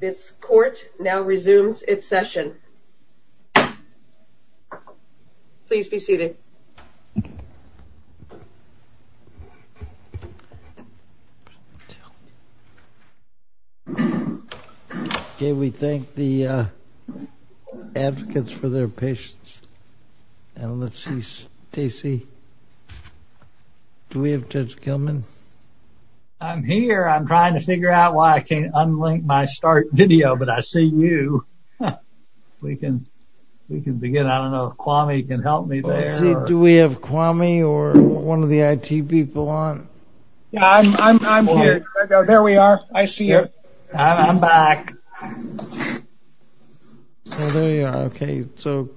This court now resumes its session. Please be seated. Okay, we thank the advocates for their patience. And let's see, Stacy, do we have Judge Gilman? I'm here. I'm trying to figure out why I can't unlink my start video, but I see you. We can begin. I don't know if Kwame can help me there. Let's see, do we have Kwame or one of the IT people on? I'm here. There we are. I see you. I'm back. The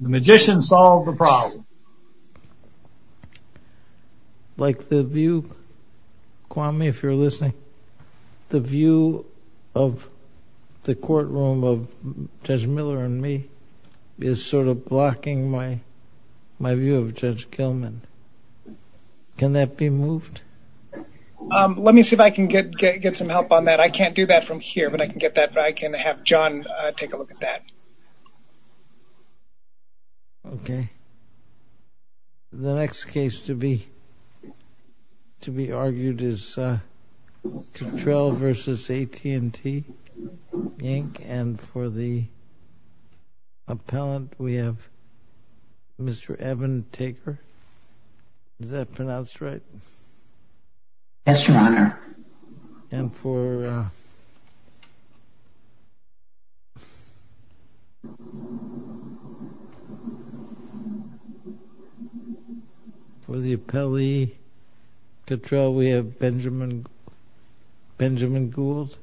magician solved the problem. Like the view, Kwame, if you're listening, the view of the courtroom of Judge Miller and me is sort of blocking my view of Judge Gilman. Can that be moved? Let me see if I can get some help on that. I can't do that from here, but I can have John take a look at that. Okay. The next case to be argued is Cottrell v. AT&T Inc. And for the appellant, we have Mr. Evan Taker. Yes, Your Honor. And for the appellee, Cottrell, we have Benjamin Gould.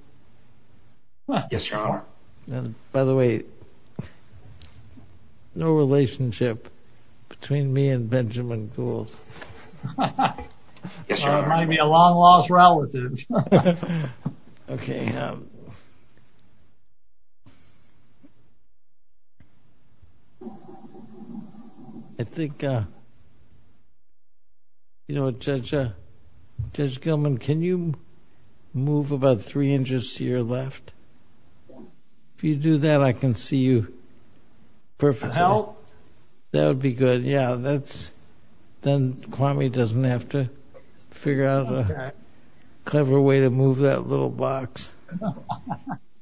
Yes, Your Honor. By the way, no relationship between me and Benjamin Gould. Yes, Your Honor. There might be a long lost relationship. Okay. I think, you know, Judge Gilman, can you move about three inches to your left? If you do that, I can see you perfectly. That would be good. Yeah, that's done. Kwame doesn't have to figure out a clever way to move that little box.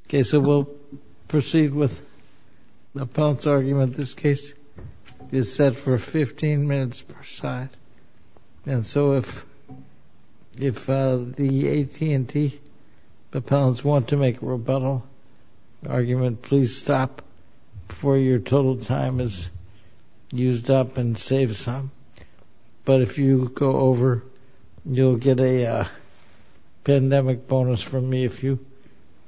Okay, so we'll proceed with the appellant's argument. This case is set for 15 minutes per side. And so if the AT&T appellants want to make a rebuttal argument, please stop before your total time is used up and save some. But if you go over, you'll get a pandemic bonus from me if you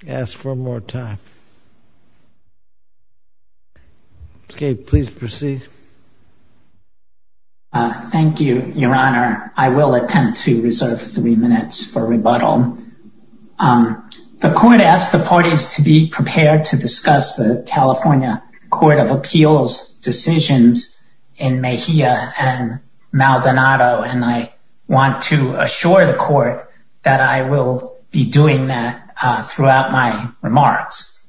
ask for more time. Okay, please proceed. Thank you, Your Honor. I will attempt to reserve three minutes for rebuttal. The court asked the parties to be prepared to discuss the California Court of Appeals decisions in Mejia and Maldonado. And I want to assure the court that I will be doing that throughout my remarks.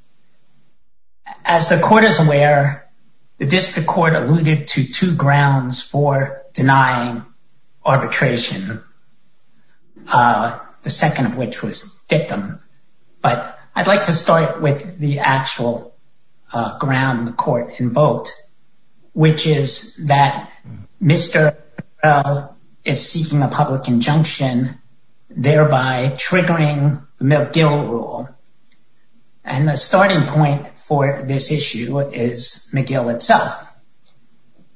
As the court is aware, the district court alluded to two grounds for denying arbitration. The second of which was victim. But I'd like to start with the actual ground the court invoked, which is that Mr. is seeking a public injunction, thereby triggering the McGill rule. And the starting point for this issue is McGill itself.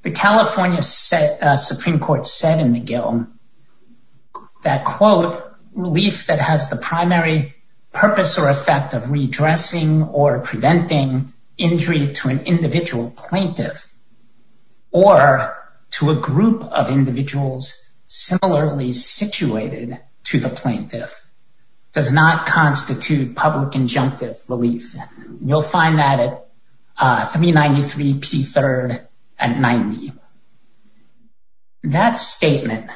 The California Supreme Court said in McGill that, quote, relief that has the primary purpose or effect of redressing or preventing injury to an individual plaintiff. Or to a group of individuals similarly situated to the plaintiff does not constitute public injunctive relief. You'll find that at 393 P. Third and 90. That statement,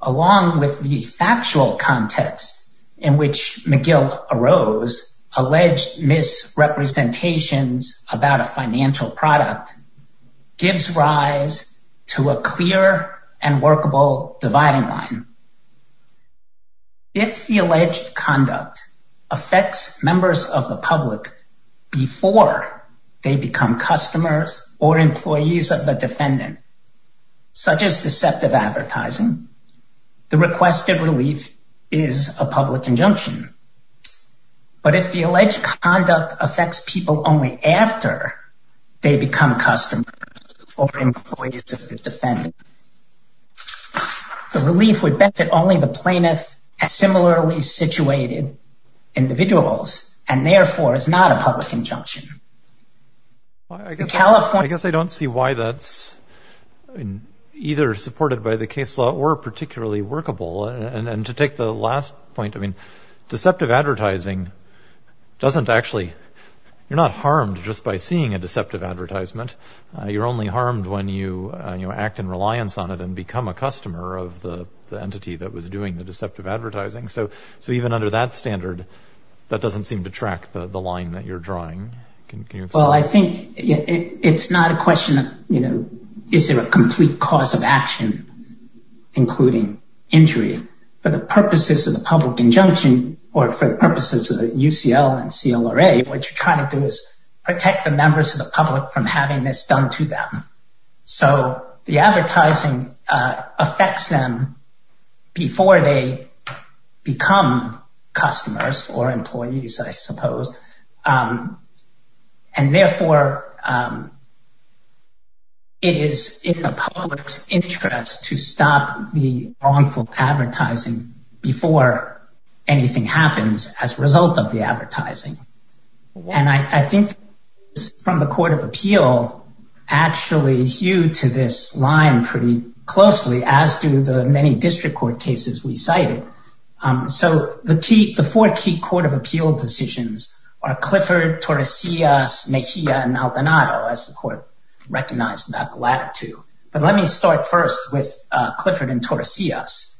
along with the factual context in which McGill arose, alleged misrepresentations about a financial product gives rise to a clear and workable dividing line. If the alleged conduct affects members of the public before they become customers or employees of the defendant, such as deceptive advertising, the requested relief is a public injunction. But if the alleged conduct affects people only after they become customers or employees of the defendant. The relief would benefit only the plaintiff and similarly situated individuals and therefore is not a public injunction. I guess I don't see why that's either supported by the case law or particularly workable. And to take the last point, I mean, deceptive advertising doesn't actually you're not harmed just by seeing a deceptive advertisement. You're only harmed when you act in reliance on it and become a customer of the entity that was doing the deceptive advertising. So. So even under that standard, that doesn't seem to track the line that you're drawing. Well, I think it's not a question of, you know, is there a complete cause of action, including injury for the purposes of the public injunction or for the purposes of UCL and CLA? What you're trying to do is protect the members of the public from having this done to them. So the advertising affects them before they become customers or employees, I suppose. And therefore. It is in the public's interest to stop the wrongful advertising before anything happens as a result of the advertising. And I think from the Court of Appeal actually hew to this line pretty closely, as do the many district court cases we cited. So the key the four key Court of Appeal decisions are Clifford, Torresillas, Mejia and Aldonado, as the court recognized that the latter two. But let me start first with Clifford and Torresillas.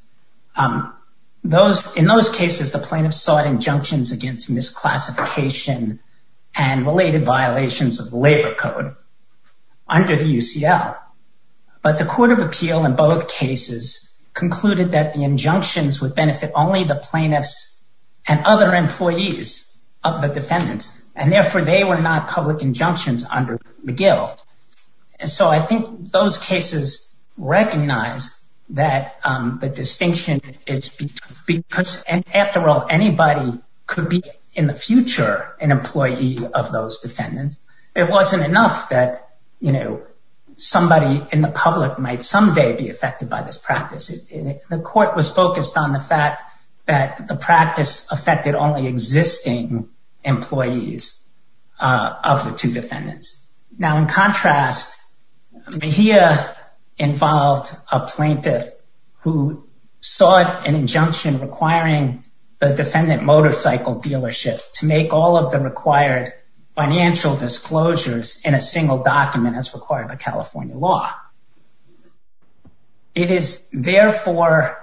Those in those cases, the plaintiffs sought injunctions against misclassification and related violations of the labor code under the UCL. But the Court of Appeal in both cases concluded that the injunctions would benefit only the plaintiffs and other employees of the defendants. And therefore, they were not public injunctions under McGill. And so I think those cases recognize that the distinction is because after all, anybody could be in the future an employee of those defendants. It wasn't enough that, you know, somebody in the public might someday be affected by this practice. The court was focused on the fact that the practice affected only existing employees of the two defendants. Now, in contrast, Mejia involved a plaintiff who sought an injunction requiring the defendant motorcycle dealership to make all of the required financial disclosures in a single document as required by California law. It is therefore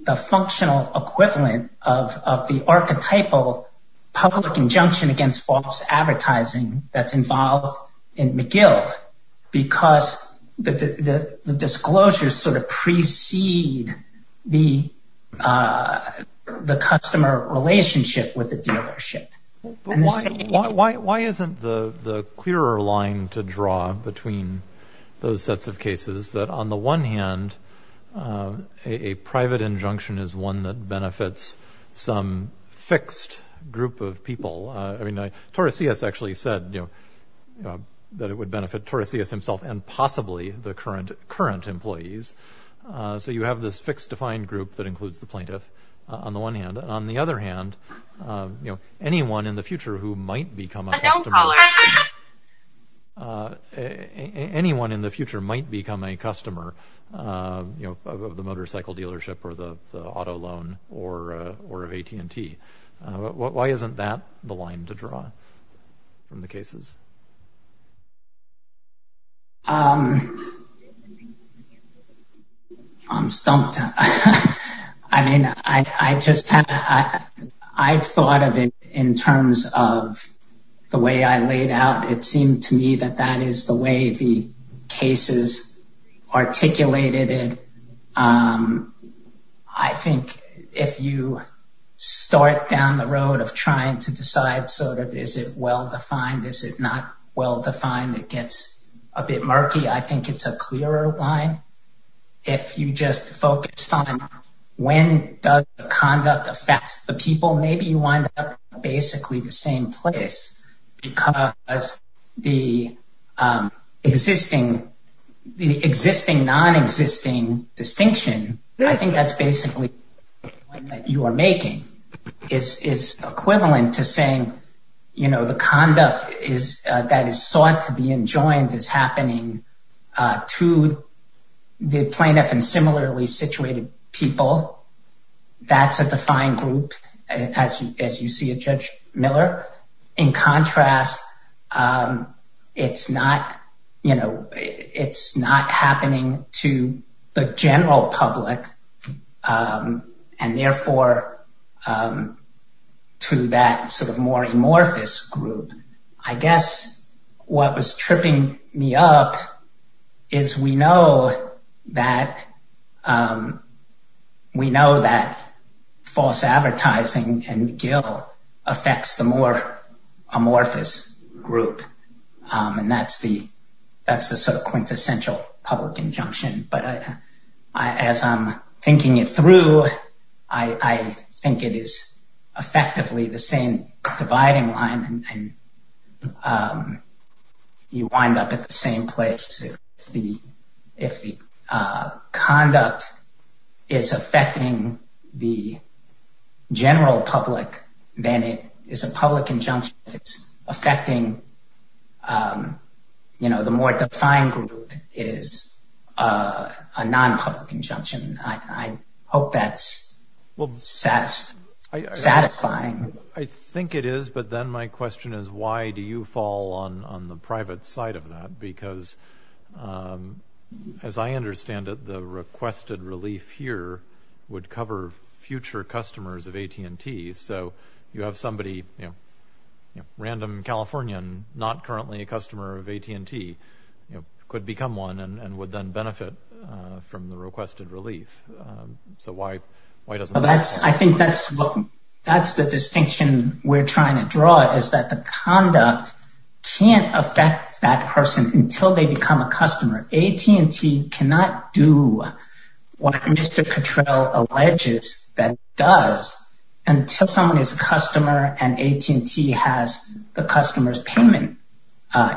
the functional equivalent of the archetypal public injunction against false advertising that's involved in McGill because the disclosures sort of precede the customer relationship with the dealership. Why isn't the clearer line to draw between those sets of cases that on the one hand, a private injunction is one that benefits some fixed group of people? I mean, Taurasius actually said, you know, that it would benefit Taurasius himself and possibly the current employees. So you have this fixed defined group that includes the plaintiff on the one hand. And on the other hand, you know, anyone in the future who might become a customer, anyone in the future might become a customer, you know, of the motorcycle dealership or the auto loan or of AT&T. Why isn't that the line to draw from the cases? I'm stumped. I mean, I just I've thought of it in terms of the way I laid out. It seemed to me that that is the way the cases articulated it. I think if you start down the road of trying to decide, sort of, is it well defined? Is it not well defined? It gets a bit murky. I think it's a clearer line. If you just focus on when does the conduct affect the people, maybe you wind up basically the same place because the existing the existing non-existing distinction. I think that's basically what you are making is equivalent to saying, you know, the conduct is that is sought to be enjoined is happening to the plaintiff and similarly situated people. That's a defined group. As you see it, Judge Miller, in contrast, it's not, you know, it's not happening to the general public and therefore to that sort of more amorphous group. I guess what was tripping me up is we know that we know that false advertising and gill affects the more amorphous group. And that's the that's the sort of quintessential public injunction. But as I'm thinking it through, I think it is effectively the same dividing line. You wind up at the same place if the if the conduct is affecting the general public, then it is a public injunction. It's affecting, you know, the more defined group is a non-public injunction. I hope that's satisfying. I think it is. But then my question is, why do you fall on the private side of that? Because as I understand it, the requested relief here would cover future customers of AT&T. So you have somebody, you know, random Californian, not currently a customer of AT&T could become one and would then benefit from the requested relief. So why? Why does that? I think that's what that's the distinction we're trying to draw is that the conduct can't affect that person until they become a customer. AT&T cannot do what Mr. Cottrell alleges that does until someone is a customer and AT&T has the customer's payment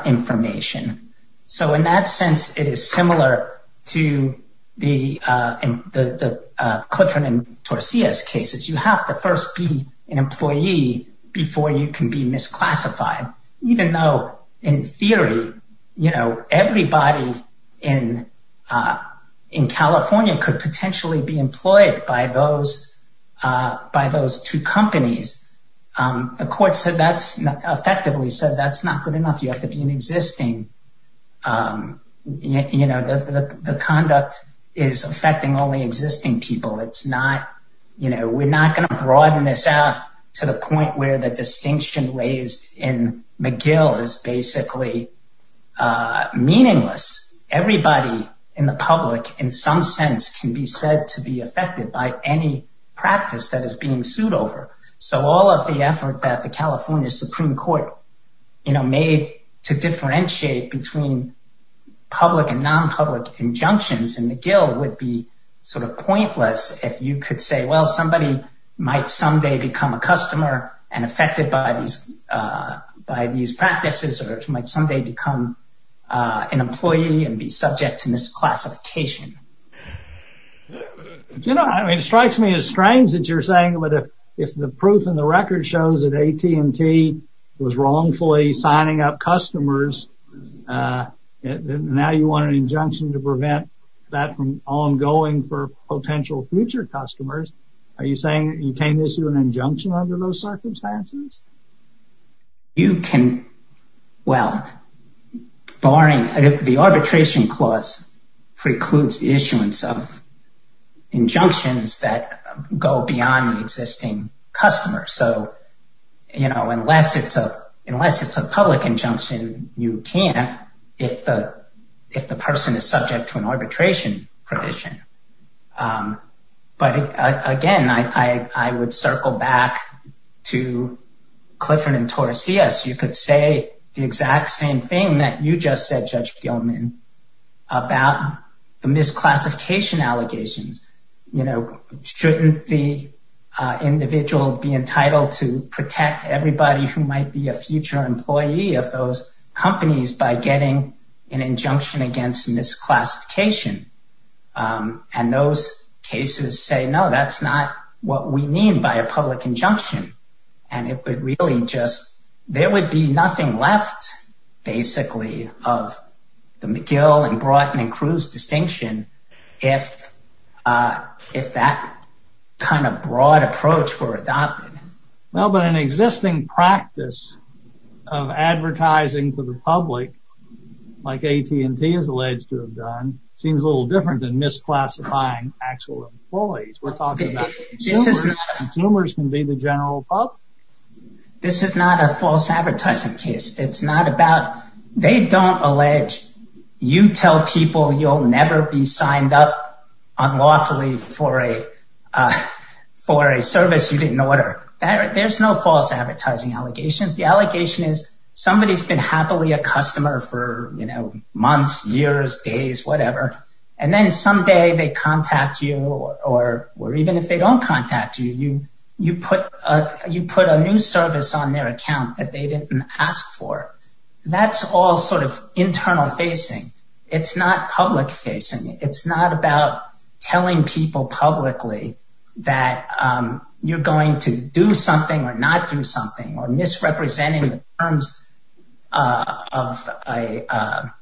information. So in that sense, it is similar to the Clifford and Tosias cases. You have to first be an employee before you can be misclassified, even though in theory, you know, everybody in in California could potentially be employed by those by those two companies. The court said that's effectively said that's not good enough. You have to be an existing. You know, the conduct is affecting only existing people. It's not you know, we're not going to broaden this out to the point where the distinction raised in McGill is basically meaningless. Everybody in the public, in some sense, can be said to be affected by any practice that is being sued over. So all of the effort that the California Supreme Court, you know, made to differentiate between public and nonpublic injunctions in McGill would be sort of pointless. If you could say, well, somebody might someday become a customer and affected by these by these practices or might someday become an employee and be subject to misclassification. You know, it strikes me as strange that you're saying that if the proof in the record shows that AT&T was wrongfully signing up customers, now you want an injunction to prevent that from ongoing for potential future customers. Are you saying you can't issue an injunction under those circumstances? You can. Well, barring the arbitration clause precludes the issuance of injunctions that go beyond the existing customer. So, you know, unless it's a unless it's a public injunction, you can't if the if the person is subject to an arbitration provision. But again, I would circle back to Clifford and Taurus. Yes, you could say the exact same thing that you just said, Judge Gilman, about the misclassification allegations. You know, shouldn't the individual be entitled to protect everybody who might be a future employee of those companies by getting an injunction against misclassification? And those cases say, no, that's not what we mean by a public injunction. And it would really just there would be nothing left, basically, of the McGill and Broughton and Cruz distinction if if that kind of broad approach were adopted. Well, but an existing practice of advertising for the public, like AT&T is alleged to have done, seems a little different than misclassifying actual employees. We're talking about consumers can be the general public. This is not a false advertising case. It's not about they don't allege you tell people you'll never be signed up unlawfully for a for a service you didn't order. There's no false advertising allegations. The allegation is somebody has been happily a customer for months, years, days, whatever. And then someday they contact you or or even if they don't contact you, you you put you put a new service on their account that they didn't ask for. That's all sort of internal facing. It's not public facing. It's not about telling people publicly that you're going to do something or not do something or misrepresenting the terms of a,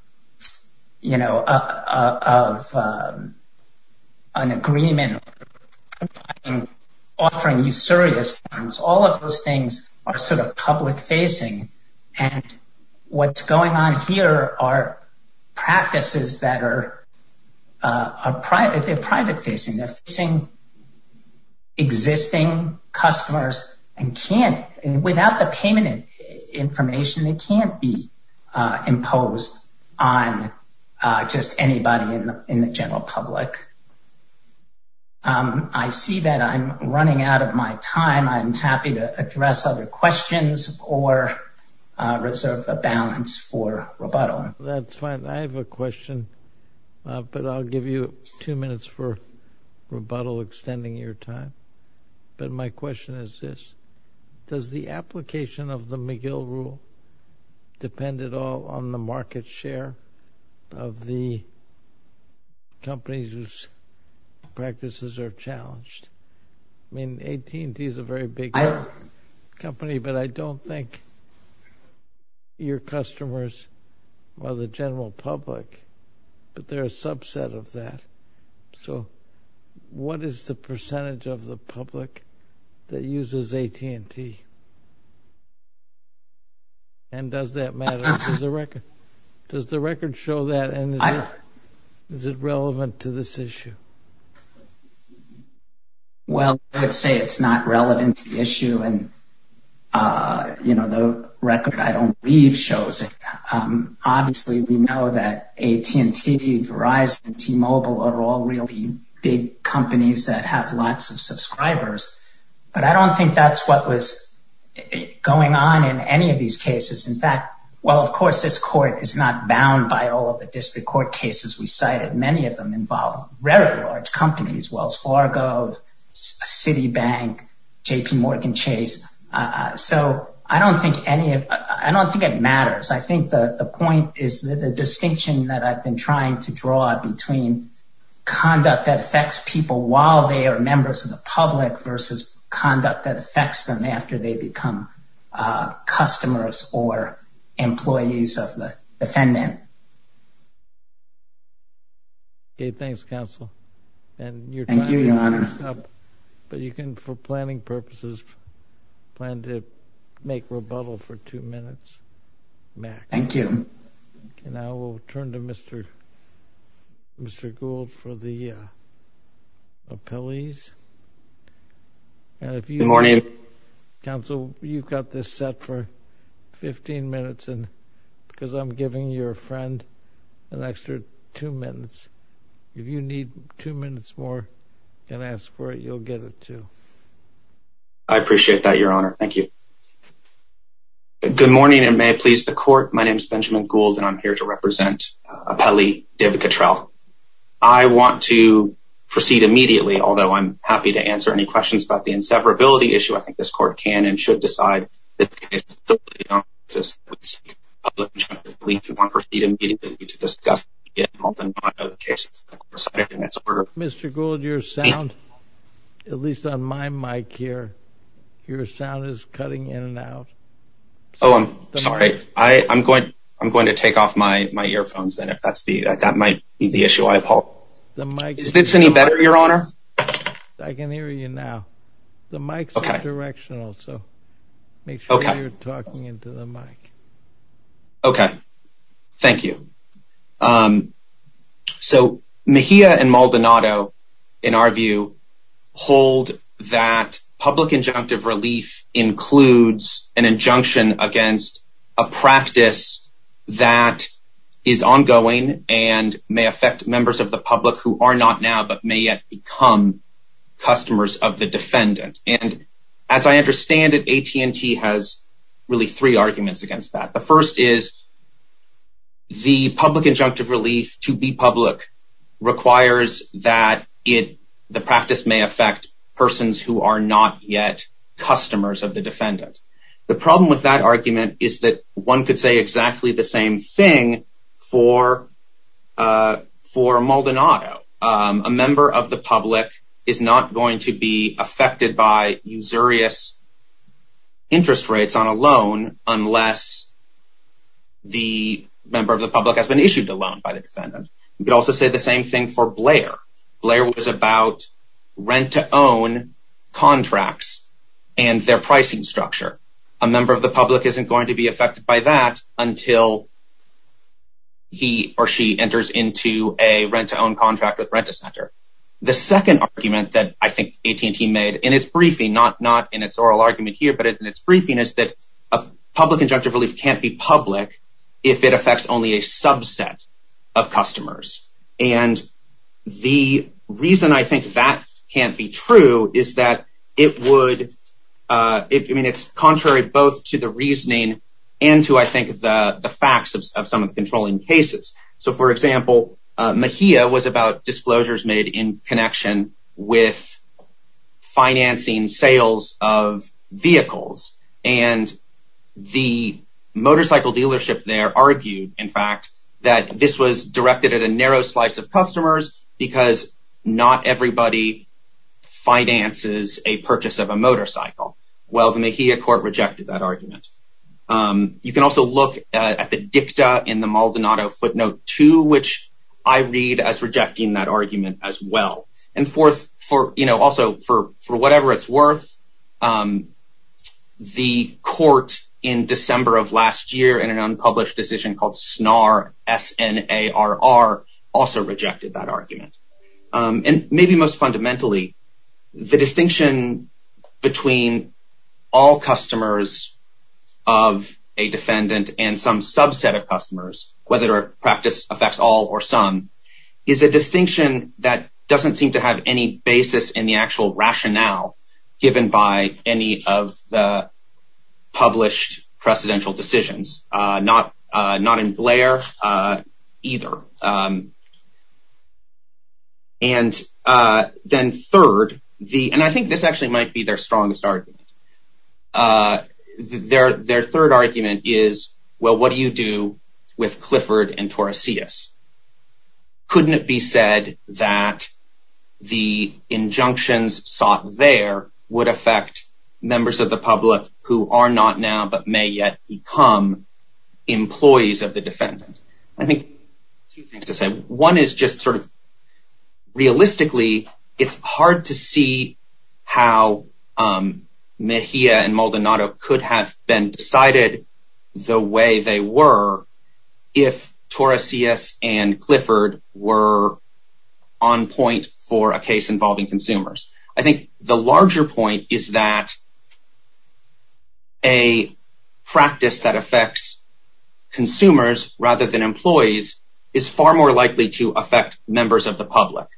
you know, of an agreement offering you serious terms. All of those things are sort of public facing. And what's going on here are practices that are are private. They're private facing. They're facing existing customers and can't without the payment information. They can't be imposed on just anybody in the general public. I see that I'm running out of my time. I'm happy to address other questions or reserve a balance for rebuttal. That's fine. I have a question, but I'll give you two minutes for rebuttal, extending your time. But my question is this. Does the application of the McGill rule depend at all on the market share of the companies whose practices are challenged? I mean, AT&T is a very big company, but I don't think your customers are the general public, but they're a subset of that. So what is the percentage of the public that uses AT&T? And does that matter? Does the record show that? And is it relevant to this issue? Well, I would say it's not relevant to the issue. And, you know, the record I don't leave shows it. Obviously, we know that AT&T, Verizon, T-Mobile are all really big companies that have lots of subscribers. But I don't think that's what was going on in any of these cases. In fact, well, of course, this court is not bound by all of the district court cases we cited. Many of them involve very large companies, Wells Fargo, Citibank, JPMorgan Chase. So I don't think any of I don't think it matters. I think the point is that the distinction that I've been trying to draw between conduct that affects people while they are members of the public versus conduct that affects them after they become customers or employees of the defendant. Thank you, Your Honor. But you can, for planning purposes, plan to make rebuttal for two minutes, Max. Thank you. And I will turn to Mr. Gould for the appellees. Good morning. Counsel, you've got this set for 15 minutes because I'm giving your friend an extra two minutes. If you need two minutes more and ask for it, you'll get it, too. I appreciate that, Your Honor. Thank you. Good morning, and may it please the court. My name is Benjamin Gould, and I'm here to represent appellee David Cottrell. I want to proceed immediately, although I'm happy to answer any questions about the inseparability issue. I think this court can and should decide that this case is totally unconstitutional. I believe we want to proceed immediately to discuss the case. Mr. Gould, your sound, at least on my mic here, your sound is cutting in and out. Oh, I'm sorry. I'm going to take off my earphones, then, if that might be the issue I have. Is this any better, Your Honor? I can hear you now. The mic's directional, so make sure you're talking into the mic. Okay. Thank you. So Mejia and Maldonado, in our view, hold that public injunctive relief includes an injunction against a practice that is ongoing and may affect members of the public who are not now but may yet become customers of the defendant. And as I understand it, AT&T has really three arguments against that. The first is the public injunctive relief, to be public, requires that the practice may affect persons who are not yet customers of the defendant. The problem with that argument is that one could say exactly the same thing for Maldonado. A member of the public is not going to be affected by usurious interest rates on a loan unless the member of the public has been issued a loan by the defendant. You could also say the same thing for Blair. Blair was about rent-to-own contracts and their pricing structure. A member of the public isn't going to be affected by that until he or she enters into a rent-to-own contract with Rent-A-Center. The second argument that I think AT&T made in its briefing, not in its oral argument here, but in its briefing, is that public injunctive relief can't be public if it affects only a subset of customers. The reason I think that can't be true is that it's contrary both to the reasoning and to the facts of some of the controlling cases. For example, Mahia was about disclosures made in connection with financing sales of vehicles. The motorcycle dealership there argued, in fact, that this was directed at a narrow slice of customers because not everybody finances a purchase of a motorcycle. Well, the Mahia court rejected that argument. You can also look at the dicta in the Maldonado footnote, too, which I read as rejecting that argument as well. And fourth, also, for whatever it's worth, the court in December of last year in an unpublished decision called SNAR, S-N-A-R-R, also rejected that argument. And maybe most fundamentally, the distinction between all customers of a defendant and some subset of customers, whether a practice affects all or some, is a distinction that doesn't seem to have any basis in the actual rationale given by any of the published precedential decisions. Not in Blair either. And then third, and I think this actually might be their strongest argument. Their third argument is, well, what do you do with Clifford and Taurasius? Couldn't it be said that the injunctions sought there would affect members of the public who are not now but may yet become employees of the defendant? I think two things to say. One is just sort of realistically, it's hard to see how Mahia and Maldonado could have been decided the way they were if Taurasius and Clifford were on point for a case involving consumers. I think the larger point is that a practice that affects consumers rather than employees is far more likely to affect members of the public.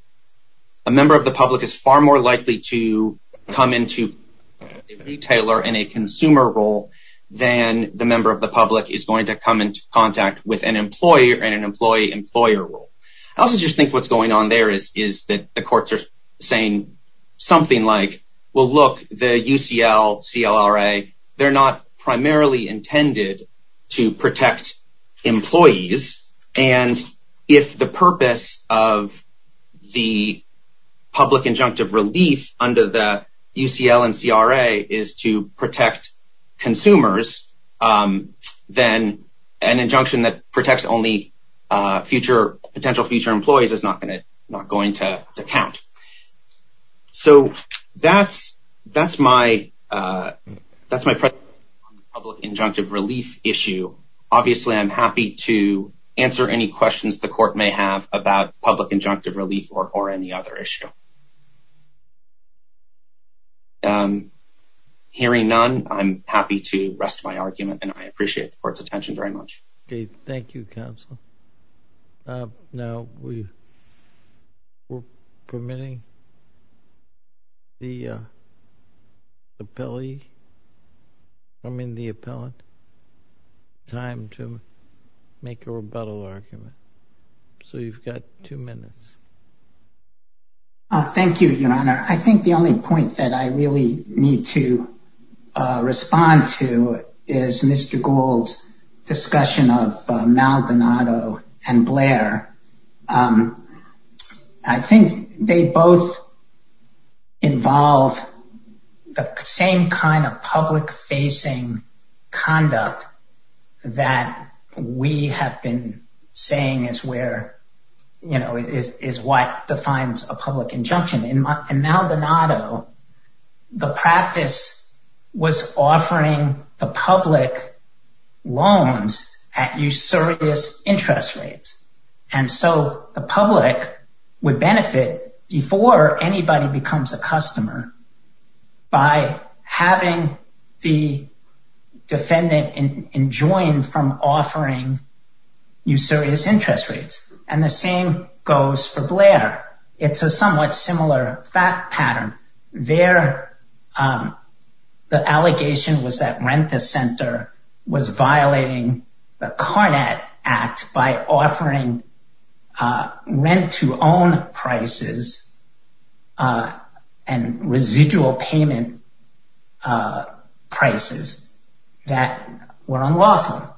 A member of the public is far more likely to come into a retailer in a consumer role than the member of the public is going to come into contact with an employer in an employee-employer role. I also just think what's going on there is that the courts are saying something like, well, look, the UCL, CLRA, they're not primarily intended to protect employees. And if the purpose of the public injunctive relief under the UCL and CRA is to protect consumers, then an injunction that protects only potential future employees is not going to count. So that's my presentation on the public injunctive relief issue. Obviously, I'm happy to answer any questions the court may have about public injunctive relief or any other issue. Hearing none, I'm happy to rest my argument, and I appreciate the court's attention very much. Thank you, counsel. Now, we're permitting the appellee, I mean the appellant, time to make a rebuttal argument. So you've got two minutes. Thank you, Your Honor. I think the only point that I really need to respond to is Mr. Gould's discussion of Maldonado and Blair. I think they both involve the same kind of public facing conduct that we have been saying is where, you know, is what defines a public injunction. In Maldonado, the practice was offering the public loans at usurious interest rates. And so the public would benefit before anybody becomes a customer by having the defendant enjoined from offering usurious interest rates. And the same goes for Blair. It's a somewhat similar fact pattern. There, the allegation was that rent-a-center was violating the Carnet Act by offering rent-to-own prices and residual payment prices that were unlawful.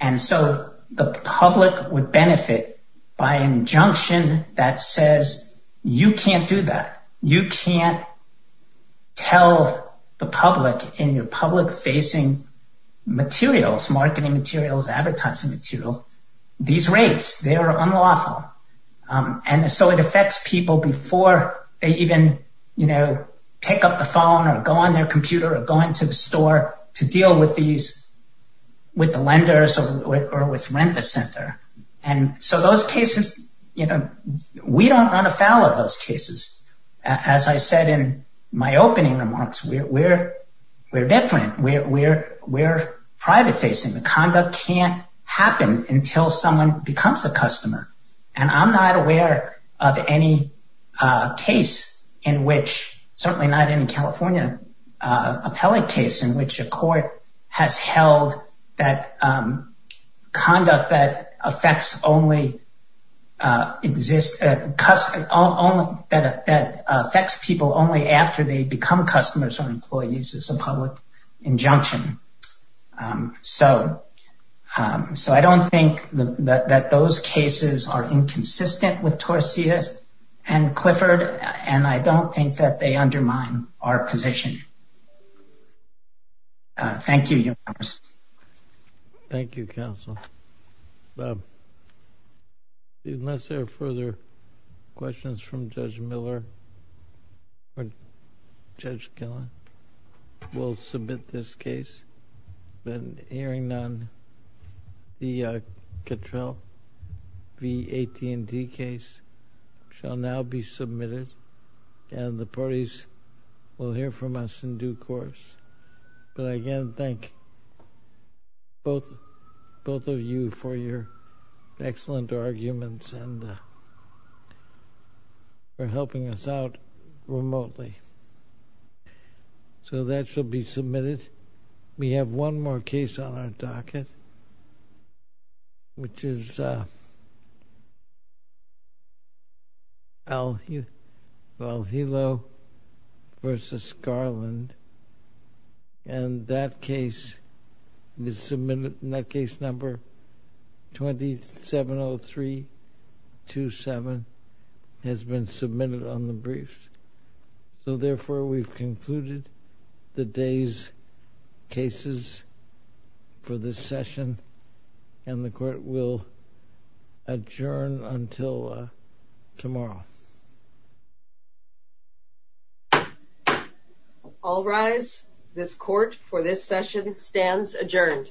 And so the public would benefit by an injunction that says you can't do that. You can't tell the public in your public facing materials, marketing materials, advertising materials, these rates, they are unlawful. And so it affects people before they even, you know, pick up the phone or go on their computer or go into the store to deal with these, with the lenders or with rent-a-center. And so those cases, you know, we don't run afoul of those cases. As I said in my opening remarks, we're different. We're private facing. The conduct can't happen until someone becomes a customer. And I'm not aware of any case in which, certainly not any California appellate case, in which a court has held that conduct that affects only, that affects people only after they become customers or employees is a public injunction. So I don't think that those cases are inconsistent with Torsia and Clifford, and I don't think that they undermine our position. Thank you. Thank you, counsel. Unless there are further questions from Judge Miller or Judge Gillen, we'll submit this case. An hearing on the Cattrell v. AT&T case shall now be submitted, and the parties will hear from us in due course. But I again thank both of you for your excellent arguments and for helping us out remotely. So that shall be submitted. We have one more case on our docket, which is Al Hilo v. Garland. And that case is submitted, and that case number 270327 has been submitted on the briefs. So therefore, we've concluded the day's cases for this session, and the court will adjourn until tomorrow. All rise. This court for this session stands adjourned.